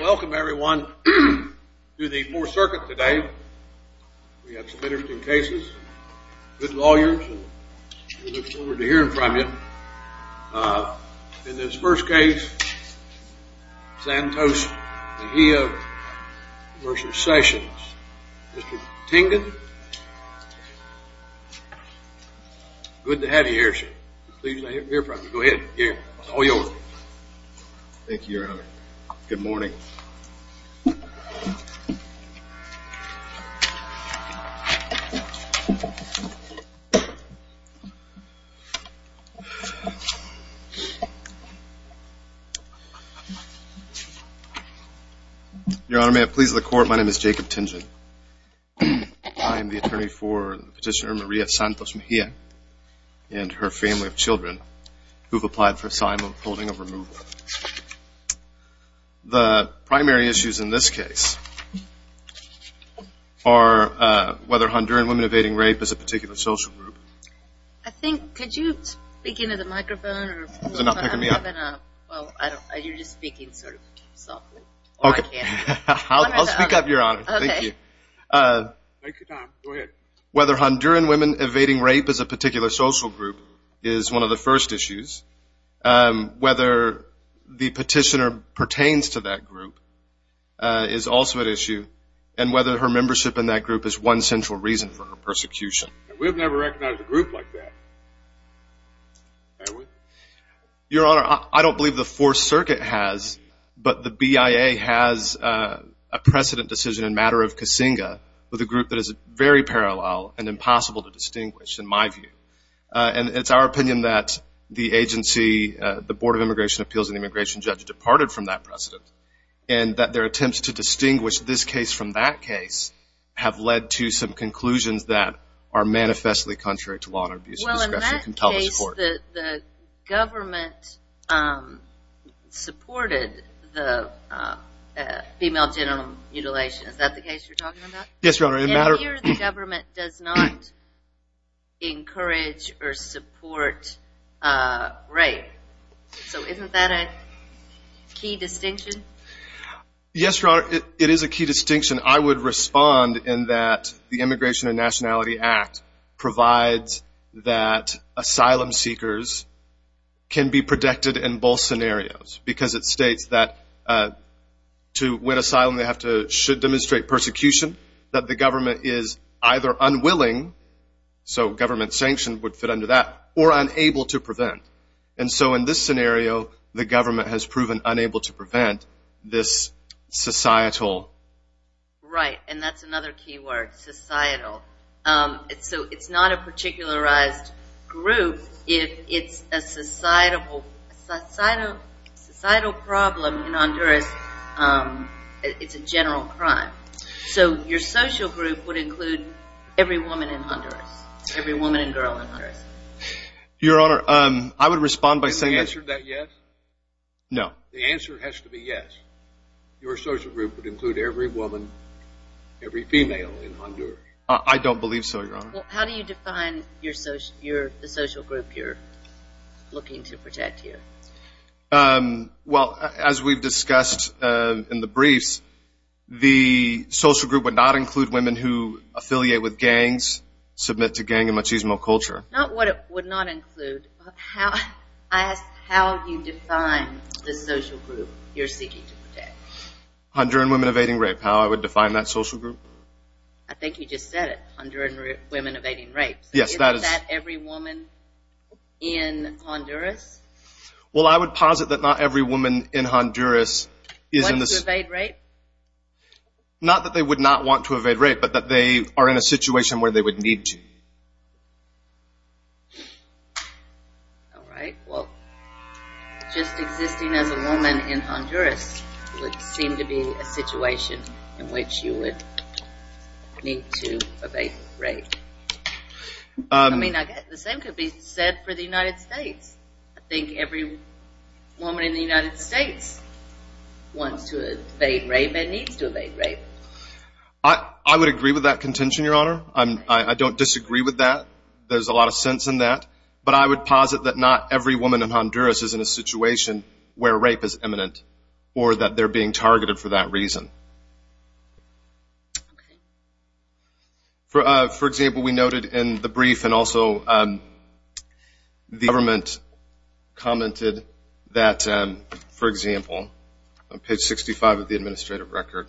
Welcome everyone to the Fourth Circuit today. We have some interesting cases, good lawyers, and we look forward to hearing from you. In this first case, Santos Mejia v. Sessions. Mr. Tingen, good to have you here sir. Thank you your honor. Good morning. Your honor, may it please the court, my name is Jacob Tingen. I am the attorney for Petitioner Maria Santos Mejia and her family of children who have applied for assignment of holding of removal. The primary issues in this case are whether Honduran women evading rape is a particular social group. I think, could you speak into the microphone? Is it not picking me up? Well, you're just speaking sort of softly. Okay, I'll speak up your honor. Thank you. Take your time, go ahead. Whether Honduran women evading rape is a particular social group is one of the first issues. Whether the petitioner pertains to that group is also an issue. And whether her membership in that group is one central reason for her persecution. We have never recognized a group like that. Your honor, I don't believe the Fourth Circuit has, but the BIA has a precedent decision in matter of Kasinga with a group that is very parallel and impossible to distinguish in my view. And it's our opinion that the agency, the Board of Immigration Appeals and Immigration Judge departed from that precedent. And that their attempts to distinguish this case from that case have led to some conclusions that are manifestly contrary to law and abuse. Well, in that case, the government supported the female genital mutilation. Is that the case you're talking about? Yes, your honor. And here the government does not encourage or support rape. So isn't that a key distinction? Yes, your honor, it is a key distinction. I would respond in that the Immigration and Nationality Act provides that asylum seekers can be protected in both scenarios. Because it states that to win asylum they should demonstrate persecution. That the government is either unwilling, so government sanction would fit under that, or unable to prevent. And so in this scenario, the government has proven unable to prevent this societal... Right, and that's another key word, societal. So it's not a particularized group, it's a societal problem in Honduras. It's a general crime. So your social group would include every woman in Honduras. Every woman and girl in Honduras. Your honor, I would respond by saying... Can you answer that yes? No. The answer has to be yes. Your social group would include every woman, every female in Honduras. I don't believe so, your honor. How do you define the social group you're looking to protect here? Well, as we've discussed in the briefs, the social group would not include women who affiliate with gangs, submit to gang and machismo culture. Not what it would not include. I asked how you define the social group you're seeking to protect. Honduran women evading rape, how I would define that social group. I think you just said it, Honduran women evading rape. Yes, that is... Isn't that every woman in Honduras? Well, I would posit that not every woman in Honduras is in this... Want to evade rape? Not that they would not want to evade rape, but that they are in a situation where they would need to. All right. Well, just existing as a woman in Honduras would seem to be a situation in which you would need to evade rape. I mean, I guess the same could be said for the United States. I think every woman in the United States wants to evade rape and needs to evade rape. I would agree with that contention, Your Honor. I don't disagree with that. There's a lot of sense in that. But I would posit that not every woman in Honduras is in a situation where rape is imminent or that they're being targeted for that reason. Okay. For example, we noted in the brief and also the government commented that, for example, on page 65 of the administrative record,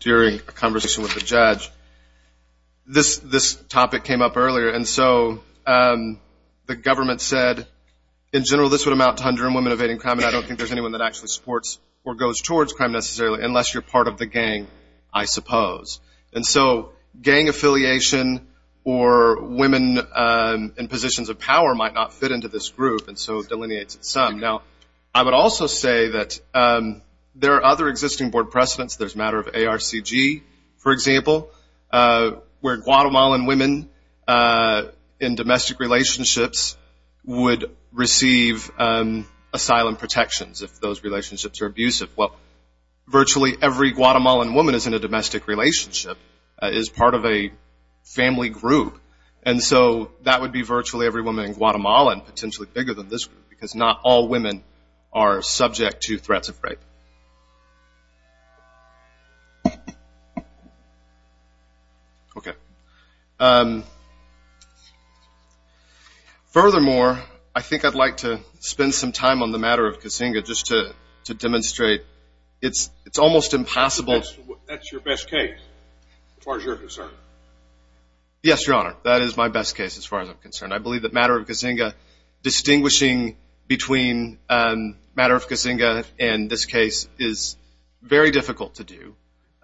during a conversation with the judge, this topic came up earlier. And so the government said, in general, this would amount to Honduran women evading crime, and I don't think there's anyone that actually supports or goes towards crime necessarily unless you're part of the gang, I suppose. And so gang affiliation or women in positions of power might not fit into this group, and so it delineates it some. Now, I would also say that there are other existing board precedents. There's a matter of ARCG, for example, where Guatemalan women in domestic relationships would receive asylum protections if those relationships are abusive. Well, virtually every Guatemalan woman is in a domestic relationship, is part of a family group, and so that would be virtually every woman in Guatemala and potentially bigger than this group because not all women are subject to threats of rape. Okay. Furthermore, I think I'd like to spend some time on the matter of Kasinga just to demonstrate it's almost impossible. That's your best case as far as you're concerned? Yes, Your Honor, that is my best case as far as I'm concerned. I believe the matter of Kasinga, distinguishing between matter of Kasinga and this case is very difficult to do,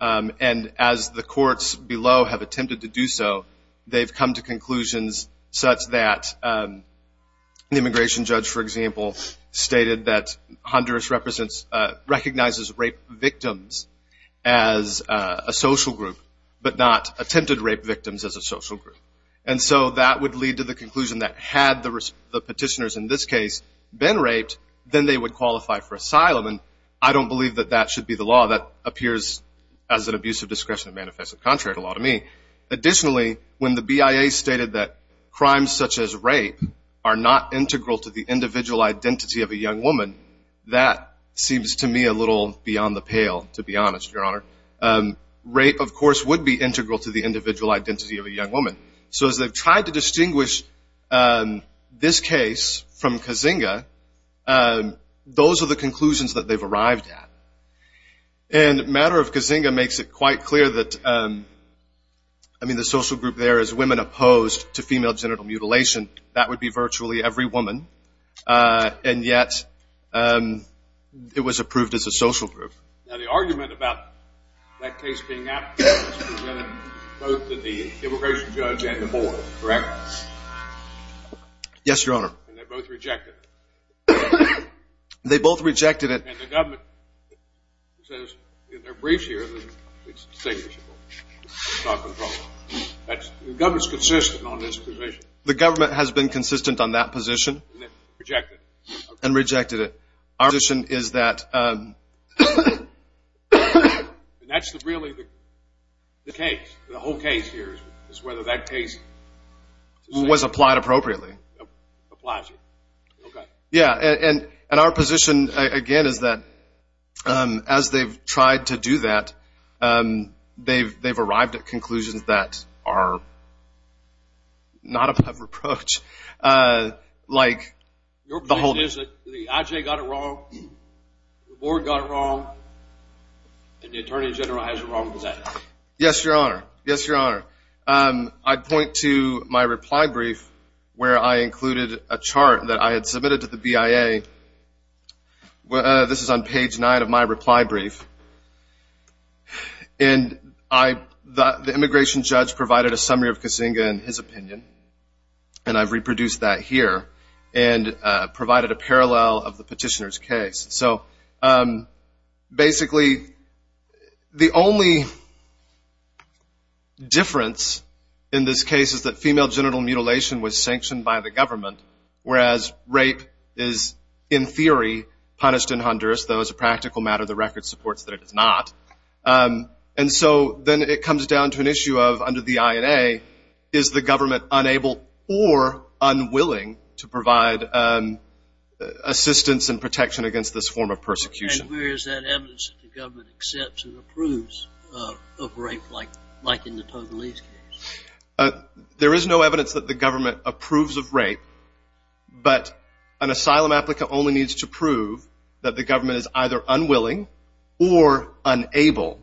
and as the courts below have attempted to do so, they've come to conclusions such that the immigration judge, for example, stated that Honduras recognizes rape victims as a social group but not attempted rape victims as a social group, and so that would lead to the conclusion that had the petitioners in this case been raped, then they would qualify for asylum, and I don't believe that that should be the law. That appears as an abusive discretion of manifesto contract law to me. Additionally, when the BIA stated that crimes such as rape are not integral to the individual identity of a young woman, that seems to me a little beyond the pale, to be honest, Your Honor. Rape, of course, would be integral to the individual identity of a young woman, so as they've tried to distinguish this case from Kasinga, those are the conclusions that they've arrived at, and matter of Kasinga makes it quite clear that, I mean, the social group there is women opposed to female genital mutilation. That would be virtually every woman, and yet it was approved as a social group. Now, the argument about that case being out is presented both to the immigration judge and the board, correct? Yes, Your Honor. And they both rejected it. They both rejected it. And the government says in their briefs here that it's distinguishable. That's not the problem. The government's consistent on this position. The government has been consistent on that position. And they rejected it. And rejected it. Our position is that that's really the case, the whole case here is whether that case was applied appropriately. Applies here. Okay. Yeah, and our position, again, is that as they've tried to do that, they've arrived at conclusions that are not above reproach. Your position is that the IJ got it wrong, the board got it wrong, and the Attorney General has it wrong. Is that it? Yes, Your Honor. Yes, Your Honor. I point to my reply brief where I included a chart that I had submitted to the BIA. This is on page 9 of my reply brief. And the immigration judge provided a summary of Kasinga and his opinion, and I've reproduced that here, and provided a parallel of the petitioner's case. So, basically, the only difference in this case is that female genital mutilation was sanctioned by the government, whereas rape is, in theory, punished in Honduras, though as a practical matter, the record supports that it is not. And so then it comes down to an issue of, under the INA, is the government unable or unwilling to provide assistance and protection against this form of persecution? And where is that evidence that the government accepts and approves of rape, like in the Togolese case? There is no evidence that the government approves of rape, but an asylum applicant only needs to prove that the government is either unwilling or unable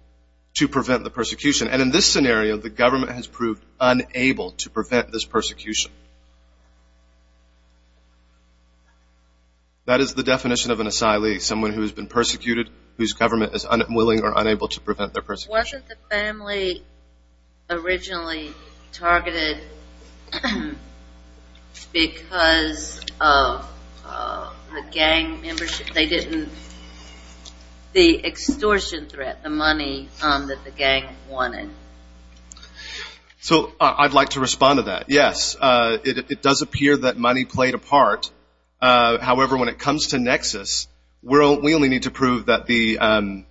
to prevent the persecution. And in this scenario, the government has proved unable to prevent this persecution. That is the definition of an asylee, someone who has been persecuted, whose government is unwilling or unable to prevent their persecution. Wasn't the family originally targeted because of the gang membership? They didn't, the extortion threat, the money that the gang wanted. So, I'd like to respond to that. Yes, it does appear that money played a part. However, when it comes to Nexus, we only need to prove that the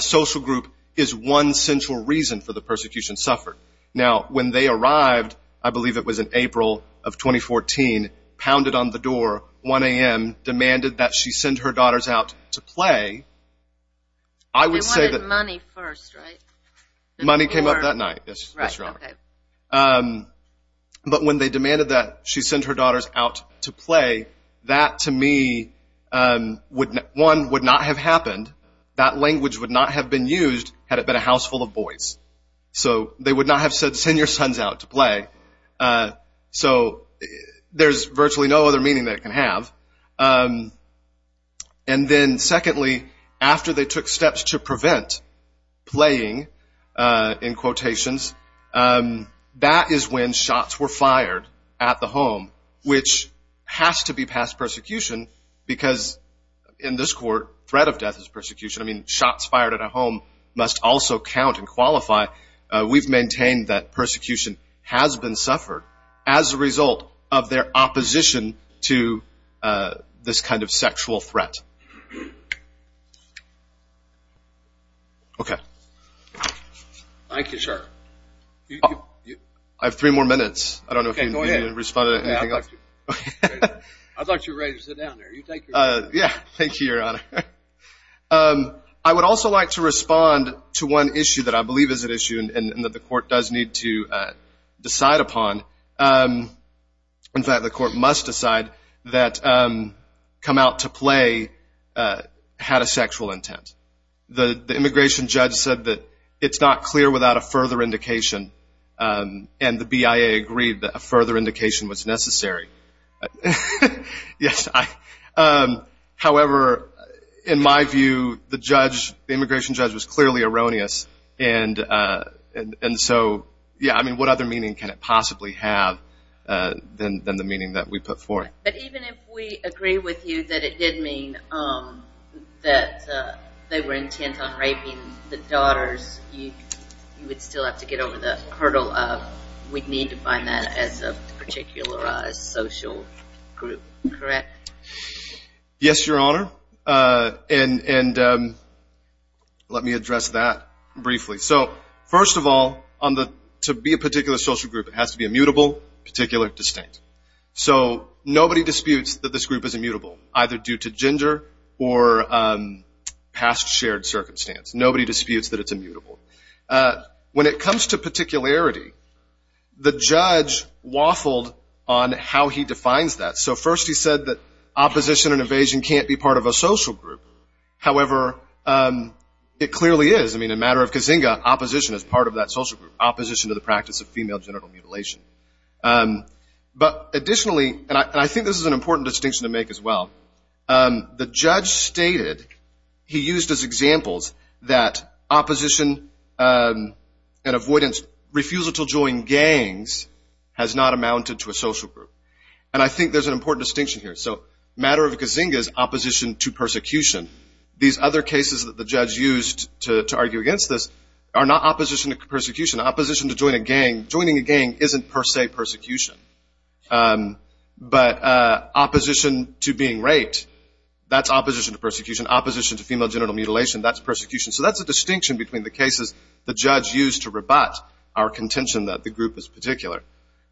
social group is one central reason for the persecution suffered. Now, when they arrived, I believe it was in April of 2014, pounded on the door, 1 a.m., demanded that she send her daughters out to play. They wanted money first, right? Money came up that night, yes, Your Honor. Okay. But when they demanded that she send her daughters out to play, that to me, one, would not have happened. That language would not have been used had it been a house full of boys. So, they would not have said, send your sons out to play. So, there's virtually no other meaning that it can have. And then secondly, after they took steps to prevent playing, in quotations, that is when shots were fired at the home, which has to be past persecution because in this court, threat of death is persecution. I mean, shots fired at a home must also count and qualify. We've maintained that persecution has been suffered as a result of their opposition to this kind of sexual threat. Okay. Thank you, sir. I have three more minutes. I don't know if you need to respond to anything else. Okay, go ahead. I thought you were ready to sit down there. Yeah, thank you, Your Honor. I would also like to respond to one issue that I believe is an issue and that the court does need to decide upon. In fact, the court must decide that come out to play had a sexual intent. The immigration judge said that it's not clear without a further indication. And the BIA agreed that a further indication was necessary. Yes. However, in my view, the judge, the immigration judge, was clearly erroneous. And so, yeah, I mean, what other meaning can it possibly have than the meaning that we put forth? But even if we agree with you that it did mean that they were intent on raping the daughters, you would still have to get over the hurdle of we'd need to find that as a particular rise. A social group, correct? Yes, Your Honor. And let me address that briefly. So first of all, to be a particular social group, it has to be immutable, particular, distinct. So nobody disputes that this group is immutable, either due to gender or past shared circumstance. Nobody disputes that it's immutable. When it comes to particularity, the judge waffled on how he defines that. So first he said that opposition and evasion can't be part of a social group. However, it clearly is. I mean, in the matter of Kazinga, opposition is part of that social group, opposition to the practice of female genital mutilation. But additionally, and I think this is an important distinction to make as well, the judge stated he used as examples that opposition and avoidance, refusal to join gangs, has not amounted to a social group. And I think there's an important distinction here. So the matter of Kazinga is opposition to persecution. These other cases that the judge used to argue against this are not opposition to persecution. Opposition to joining a gang, joining a gang isn't per se persecution. But opposition to being raped, that's opposition to persecution. Opposition to female genital mutilation, that's persecution. So that's a distinction between the cases the judge used to rebut our contention that the group is particular.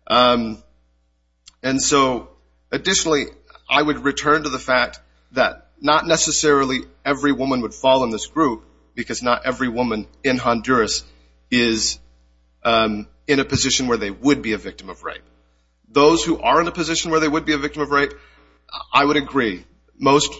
And so additionally, I would return to the fact that not necessarily every woman would fall in this group because not every woman in Honduras is in a position where they would be a victim of rape. Those who are in a position where they would be a victim of rape, I would agree. Most,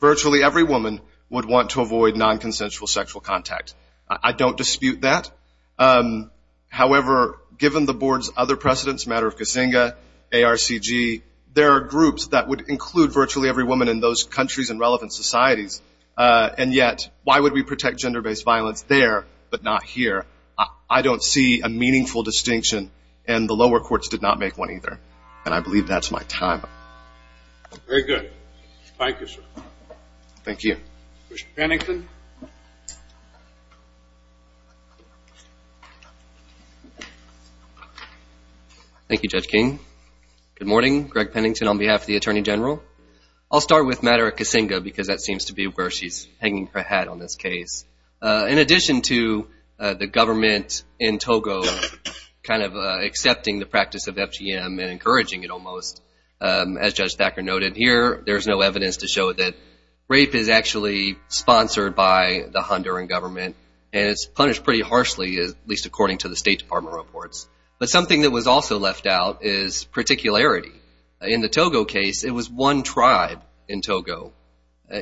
virtually every woman would want to avoid nonconsensual sexual contact. I don't dispute that. However, given the board's other precedents, matter of Kazinga, ARCG, there are groups that would include virtually every woman in those countries and relevant societies. And yet, why would we protect gender-based violence there but not here? I don't see a meaningful distinction, and the lower courts did not make one either. And I believe that's my time. Very good. Thank you, sir. Thank you. Commissioner Pennington. Thank you, Judge King. Good morning. Greg Pennington on behalf of the Attorney General. I'll start with matter of Kazinga because that seems to be where she's hanging her hat on this case. In addition to the government in Togo kind of accepting the practice of FGM and encouraging it almost, as Judge Thacker noted here, there's no evidence to show that rape is actually sponsored by the Honduran government and it's punished pretty harshly, at least according to the State Department reports. But something that was also left out is particularity. In the Togo case, it was one tribe in Togo.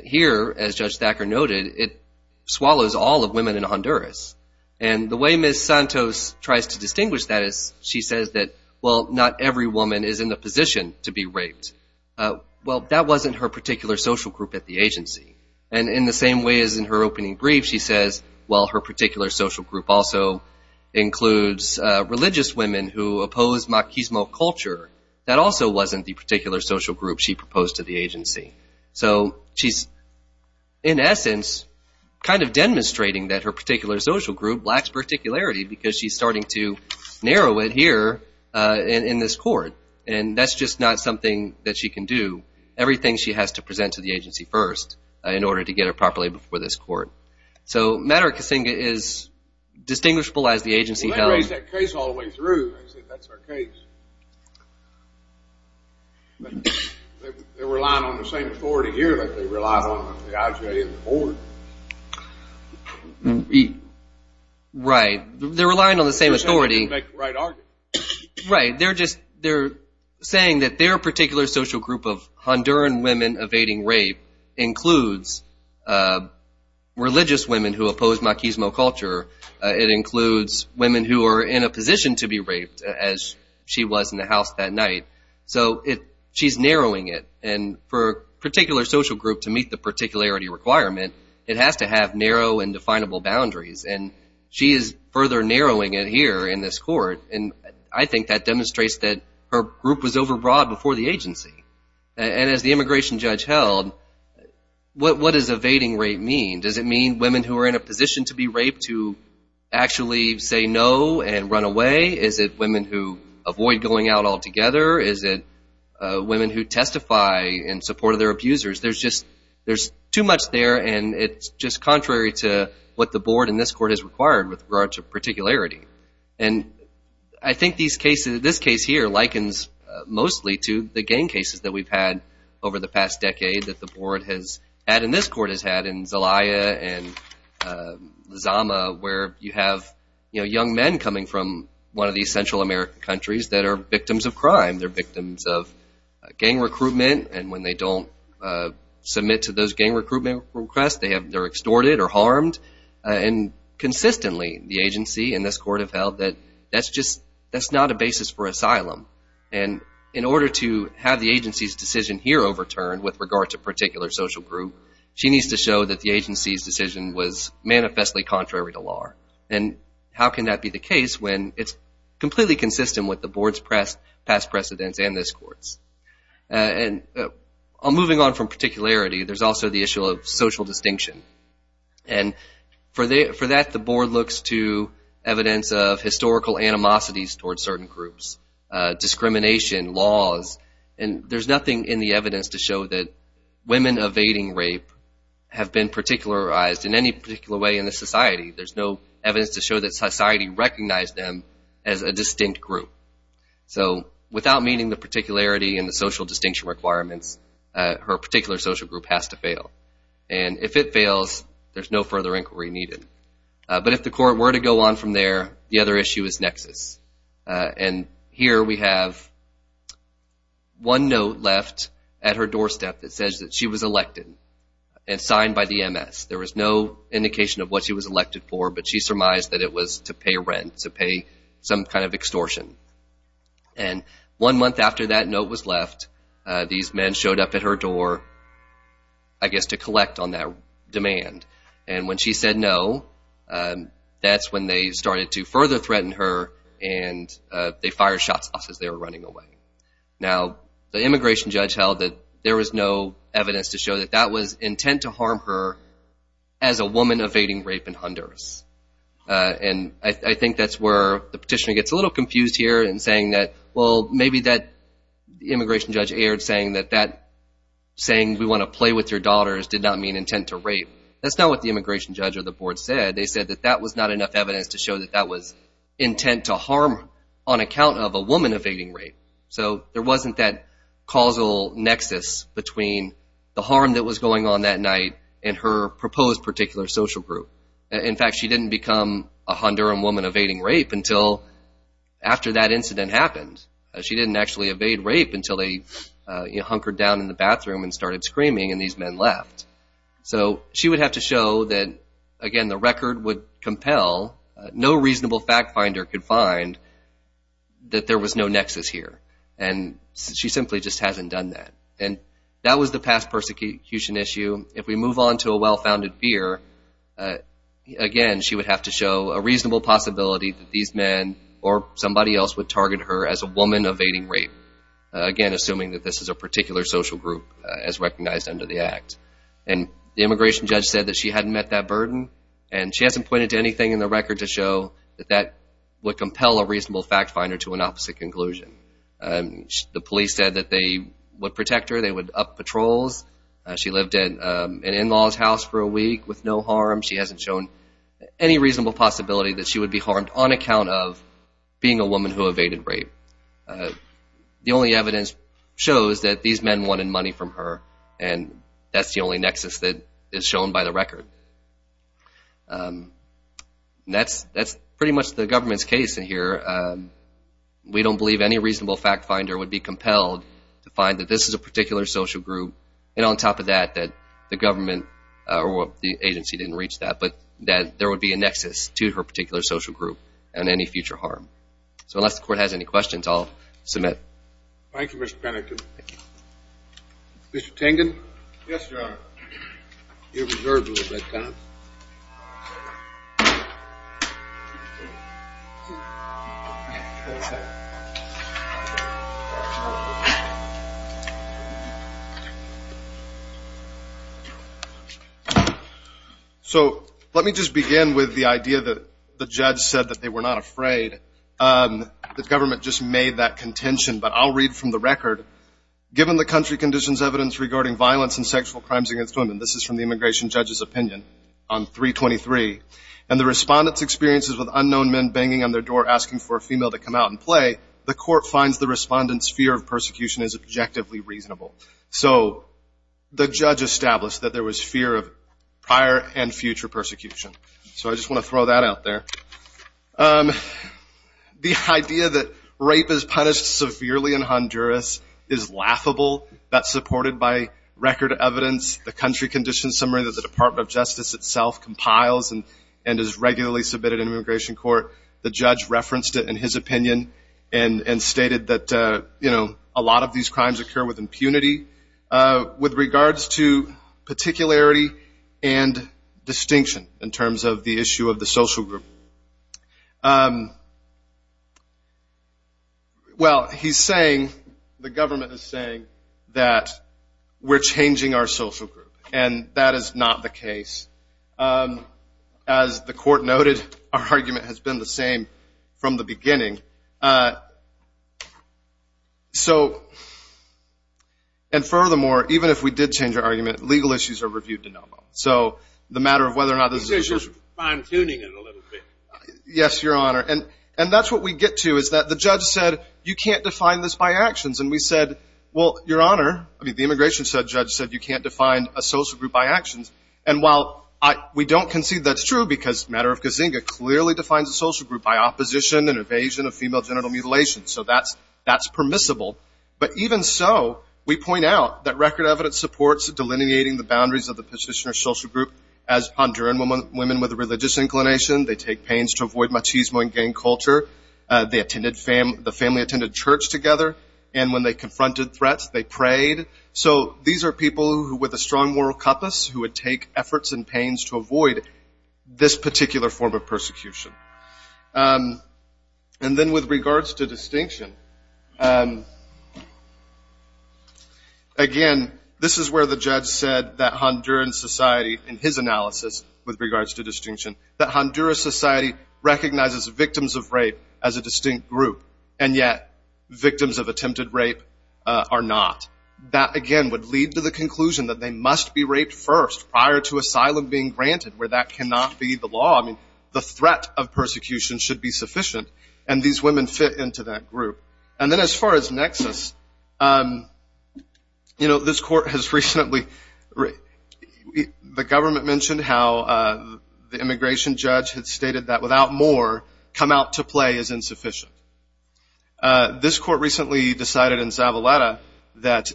Here, as Judge Thacker noted, it swallows all the women in Honduras. And the way Ms. Santos tries to distinguish that is she says that, well, not every woman is in the position to be raped. Well, that wasn't her particular social group at the agency. And in the same way as in her opening brief, she says, well, her particular social group also includes religious women who oppose machismo culture. That also wasn't the particular social group she proposed to the agency. So she's, in essence, kind of demonstrating that her particular social group lacks particularity because she's starting to narrow it here in this court. And that's just not something that she can do. Everything she has to present to the agency first in order to get it properly before this court. So matter of Kazinga is distinguishable as the agency held. I raised that case all the way through. I said, that's our case. They're relying on the same authority here like they rely on the IJA and the board. Right. They're relying on the same authority. Right. They're just saying that their particular social group of Honduran women evading rape includes religious women who oppose machismo culture. It includes women who are in a position to be raped, as she was in the house that night. So she's narrowing it. And for a particular social group to meet the particularity requirement, it has to have narrow and definable boundaries. And she is further narrowing it here in this court. And I think that demonstrates that her group was overbroad before the agency. And as the immigration judge held, what does evading rape mean? Does it mean women who are in a position to be raped to actually say no and run away? Is it women who avoid going out altogether? Is it women who testify in support of their abusers? There's too much there, and it's just contrary to what the board in this court has required with regards to particularity. And I think this case here likens mostly to the gang cases that we've had over the past decade that the board has had and this court has had in Zelaya and Lizama, where you have young men coming from one of these Central American countries that are victims of crime. They're victims of gang recruitment. And when they don't submit to those gang recruitment requests, they're extorted or harmed. And consistently, the agency and this court have held that that's not a basis for asylum. And in order to have the agency's decision here overturned with regard to a particular social group, she needs to show that the agency's decision was manifestly contrary to law. And how can that be the case when it's completely consistent with the board's past precedents and this court's? And moving on from particularity, there's also the issue of social distinction. And for that, the board looks to evidence of historical animosities towards certain groups discrimination, laws, and there's nothing in the evidence to show that women evading rape have been particularized in any particular way in the society. There's no evidence to show that society recognized them as a distinct group. So without meeting the particularity and the social distinction requirements, her particular social group has to fail. And if it fails, there's no further inquiry needed. But if the court were to go on from there, the other issue is nexus. And here we have one note left at her doorstep that says that she was elected and signed by the MS. There was no indication of what she was elected for, but she surmised that it was to pay rent, to pay some kind of extortion. And one month after that note was left, these men showed up at her door, I guess, to collect on that demand. And when she said no, that's when they started to further threaten her, and they fired shots off as they were running away. Now, the immigration judge held that there was no evidence to show that that was intent to harm her as a woman evading rape in Honduras. And I think that's where the petitioner gets a little confused here in saying that, well, maybe that immigration judge aired saying that that saying we want to play with your daughters did not mean intent to rape. That's not what the immigration judge or the board said. They said that that was not enough evidence to show that that was intent to harm on account of a woman evading rape. So there wasn't that causal nexus between the harm that was going on that night and her proposed particular social group. In fact, she didn't become a Honduran woman evading rape until after that incident happened. She didn't actually evade rape until they hunkered down in the bathroom and started screaming and these men left. So she would have to show that, again, the record would compel, no reasonable fact finder could find that there was no nexus here. And she simply just hasn't done that. And that was the past persecution issue. If we move on to a well-founded fear, again, she would have to show a reasonable possibility that these men or somebody else would target her as a woman evading rape, again, And the immigration judge said that she hadn't met that burden, and she hasn't pointed to anything in the record to show that that would compel a reasonable fact finder to an opposite conclusion. The police said that they would protect her. They would up patrols. She lived at an in-law's house for a week with no harm. She hasn't shown any reasonable possibility that she would be harmed on account of being a woman who evaded rape. The only evidence shows that these men wanted money from her, and that's the only nexus that is shown by the record. And that's pretty much the government's case in here. We don't believe any reasonable fact finder would be compelled to find that this is a particular social group, and on top of that, that the government or the agency didn't reach that, but that there would be a nexus to her particular social group and any future harm. So unless the court has any questions, I'll submit. Thank you, Mr. Panikin. Mr. Tengen? Yes, Your Honor. You're reserved a little bit, Tom. Thank you. So let me just begin with the idea that the judge said that they were not afraid. The government just made that contention, but I'll read from the record. Given the country conditions evidence regarding violence and sexual crimes against women, this is from the immigration judge's opinion on 323, and the respondent's experiences with unknown men banging on their door asking for a female to come out and play, the court finds the respondent's fear of persecution as objectively reasonable. So the judge established that there was fear of prior and future persecution. So I just want to throw that out there. The idea that rape is punished severely in Honduras is laughable. That's supported by record evidence. The country conditions summary that the Department of Justice itself compiles and is regularly submitted in immigration court, the judge referenced it in his opinion and stated that a lot of these crimes occur with impunity. With regards to particularity and distinction in terms of the issue of the social group, well, he's saying, the government is saying that we're changing our social group, and that is not the case. As the court noted, our argument has been the same from the beginning. So, and furthermore, even if we did change our argument, legal issues are reviewed de novo. So the matter of whether or not there's a social group. Yes, Your Honor, and that's what we get to is that the judge said, you can't define this by actions, and we said, well, Your Honor, I mean, the immigration judge said you can't define a social group by actions, and while we don't concede that's true because the matter of Kazinga clearly defines a social group by opposition and evasion of female genital mutilation. So that's permissible. But even so, we point out that record evidence supports delineating the boundaries of the position of social group as Honduran women with a religious inclination. They take pains to avoid machismo and gang culture. The family attended church together, and when they confronted threats, they prayed. So these are people with a strong moral compass who would take efforts and pains to avoid this particular form of persecution. And then with regards to distinction, again, this is where the judge said that Honduran society, in his analysis with regards to distinction, that Honduran society recognizes victims of rape as a distinct group, and yet victims of attempted rape are not. That, again, would lead to the conclusion that they must be raped first prior to asylum being granted, where that cannot be the law. I mean, the threat of persecution should be sufficient, and these women fit into that group. And then as far as nexus, you know, this court has recently, the government mentioned how the immigration judge had stated that without more, come out to play is insufficient. This court recently decided in Savaleta that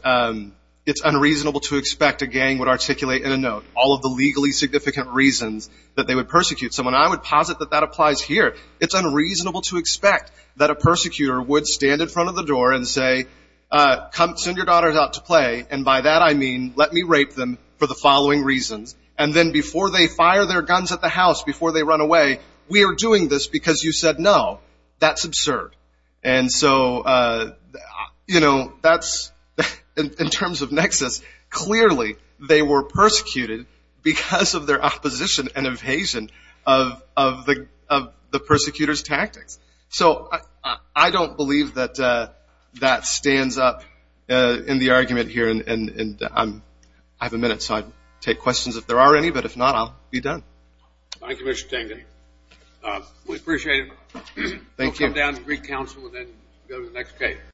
it's unreasonable to expect a gang would articulate in a note all of the legally significant reasons that they would persecute someone. I would posit that that applies here. It's unreasonable to expect that a persecutor would stand in front of the door and say, send your daughters out to play, and by that I mean let me rape them for the following reasons. And then before they fire their guns at the house, before they run away, we are doing this because you said no. That's absurd. And so, you know, that's, in terms of nexus, clearly they were persecuted because of their opposition and evasion of the persecutor's tactics. So I don't believe that that stands up in the argument here, and I have a minute, so I can take questions if there are any, but if not, I'll be done. Thank you, Mr. Tengen. We appreciate it. Thank you. We'll come down to Greek Council and then go to the next case.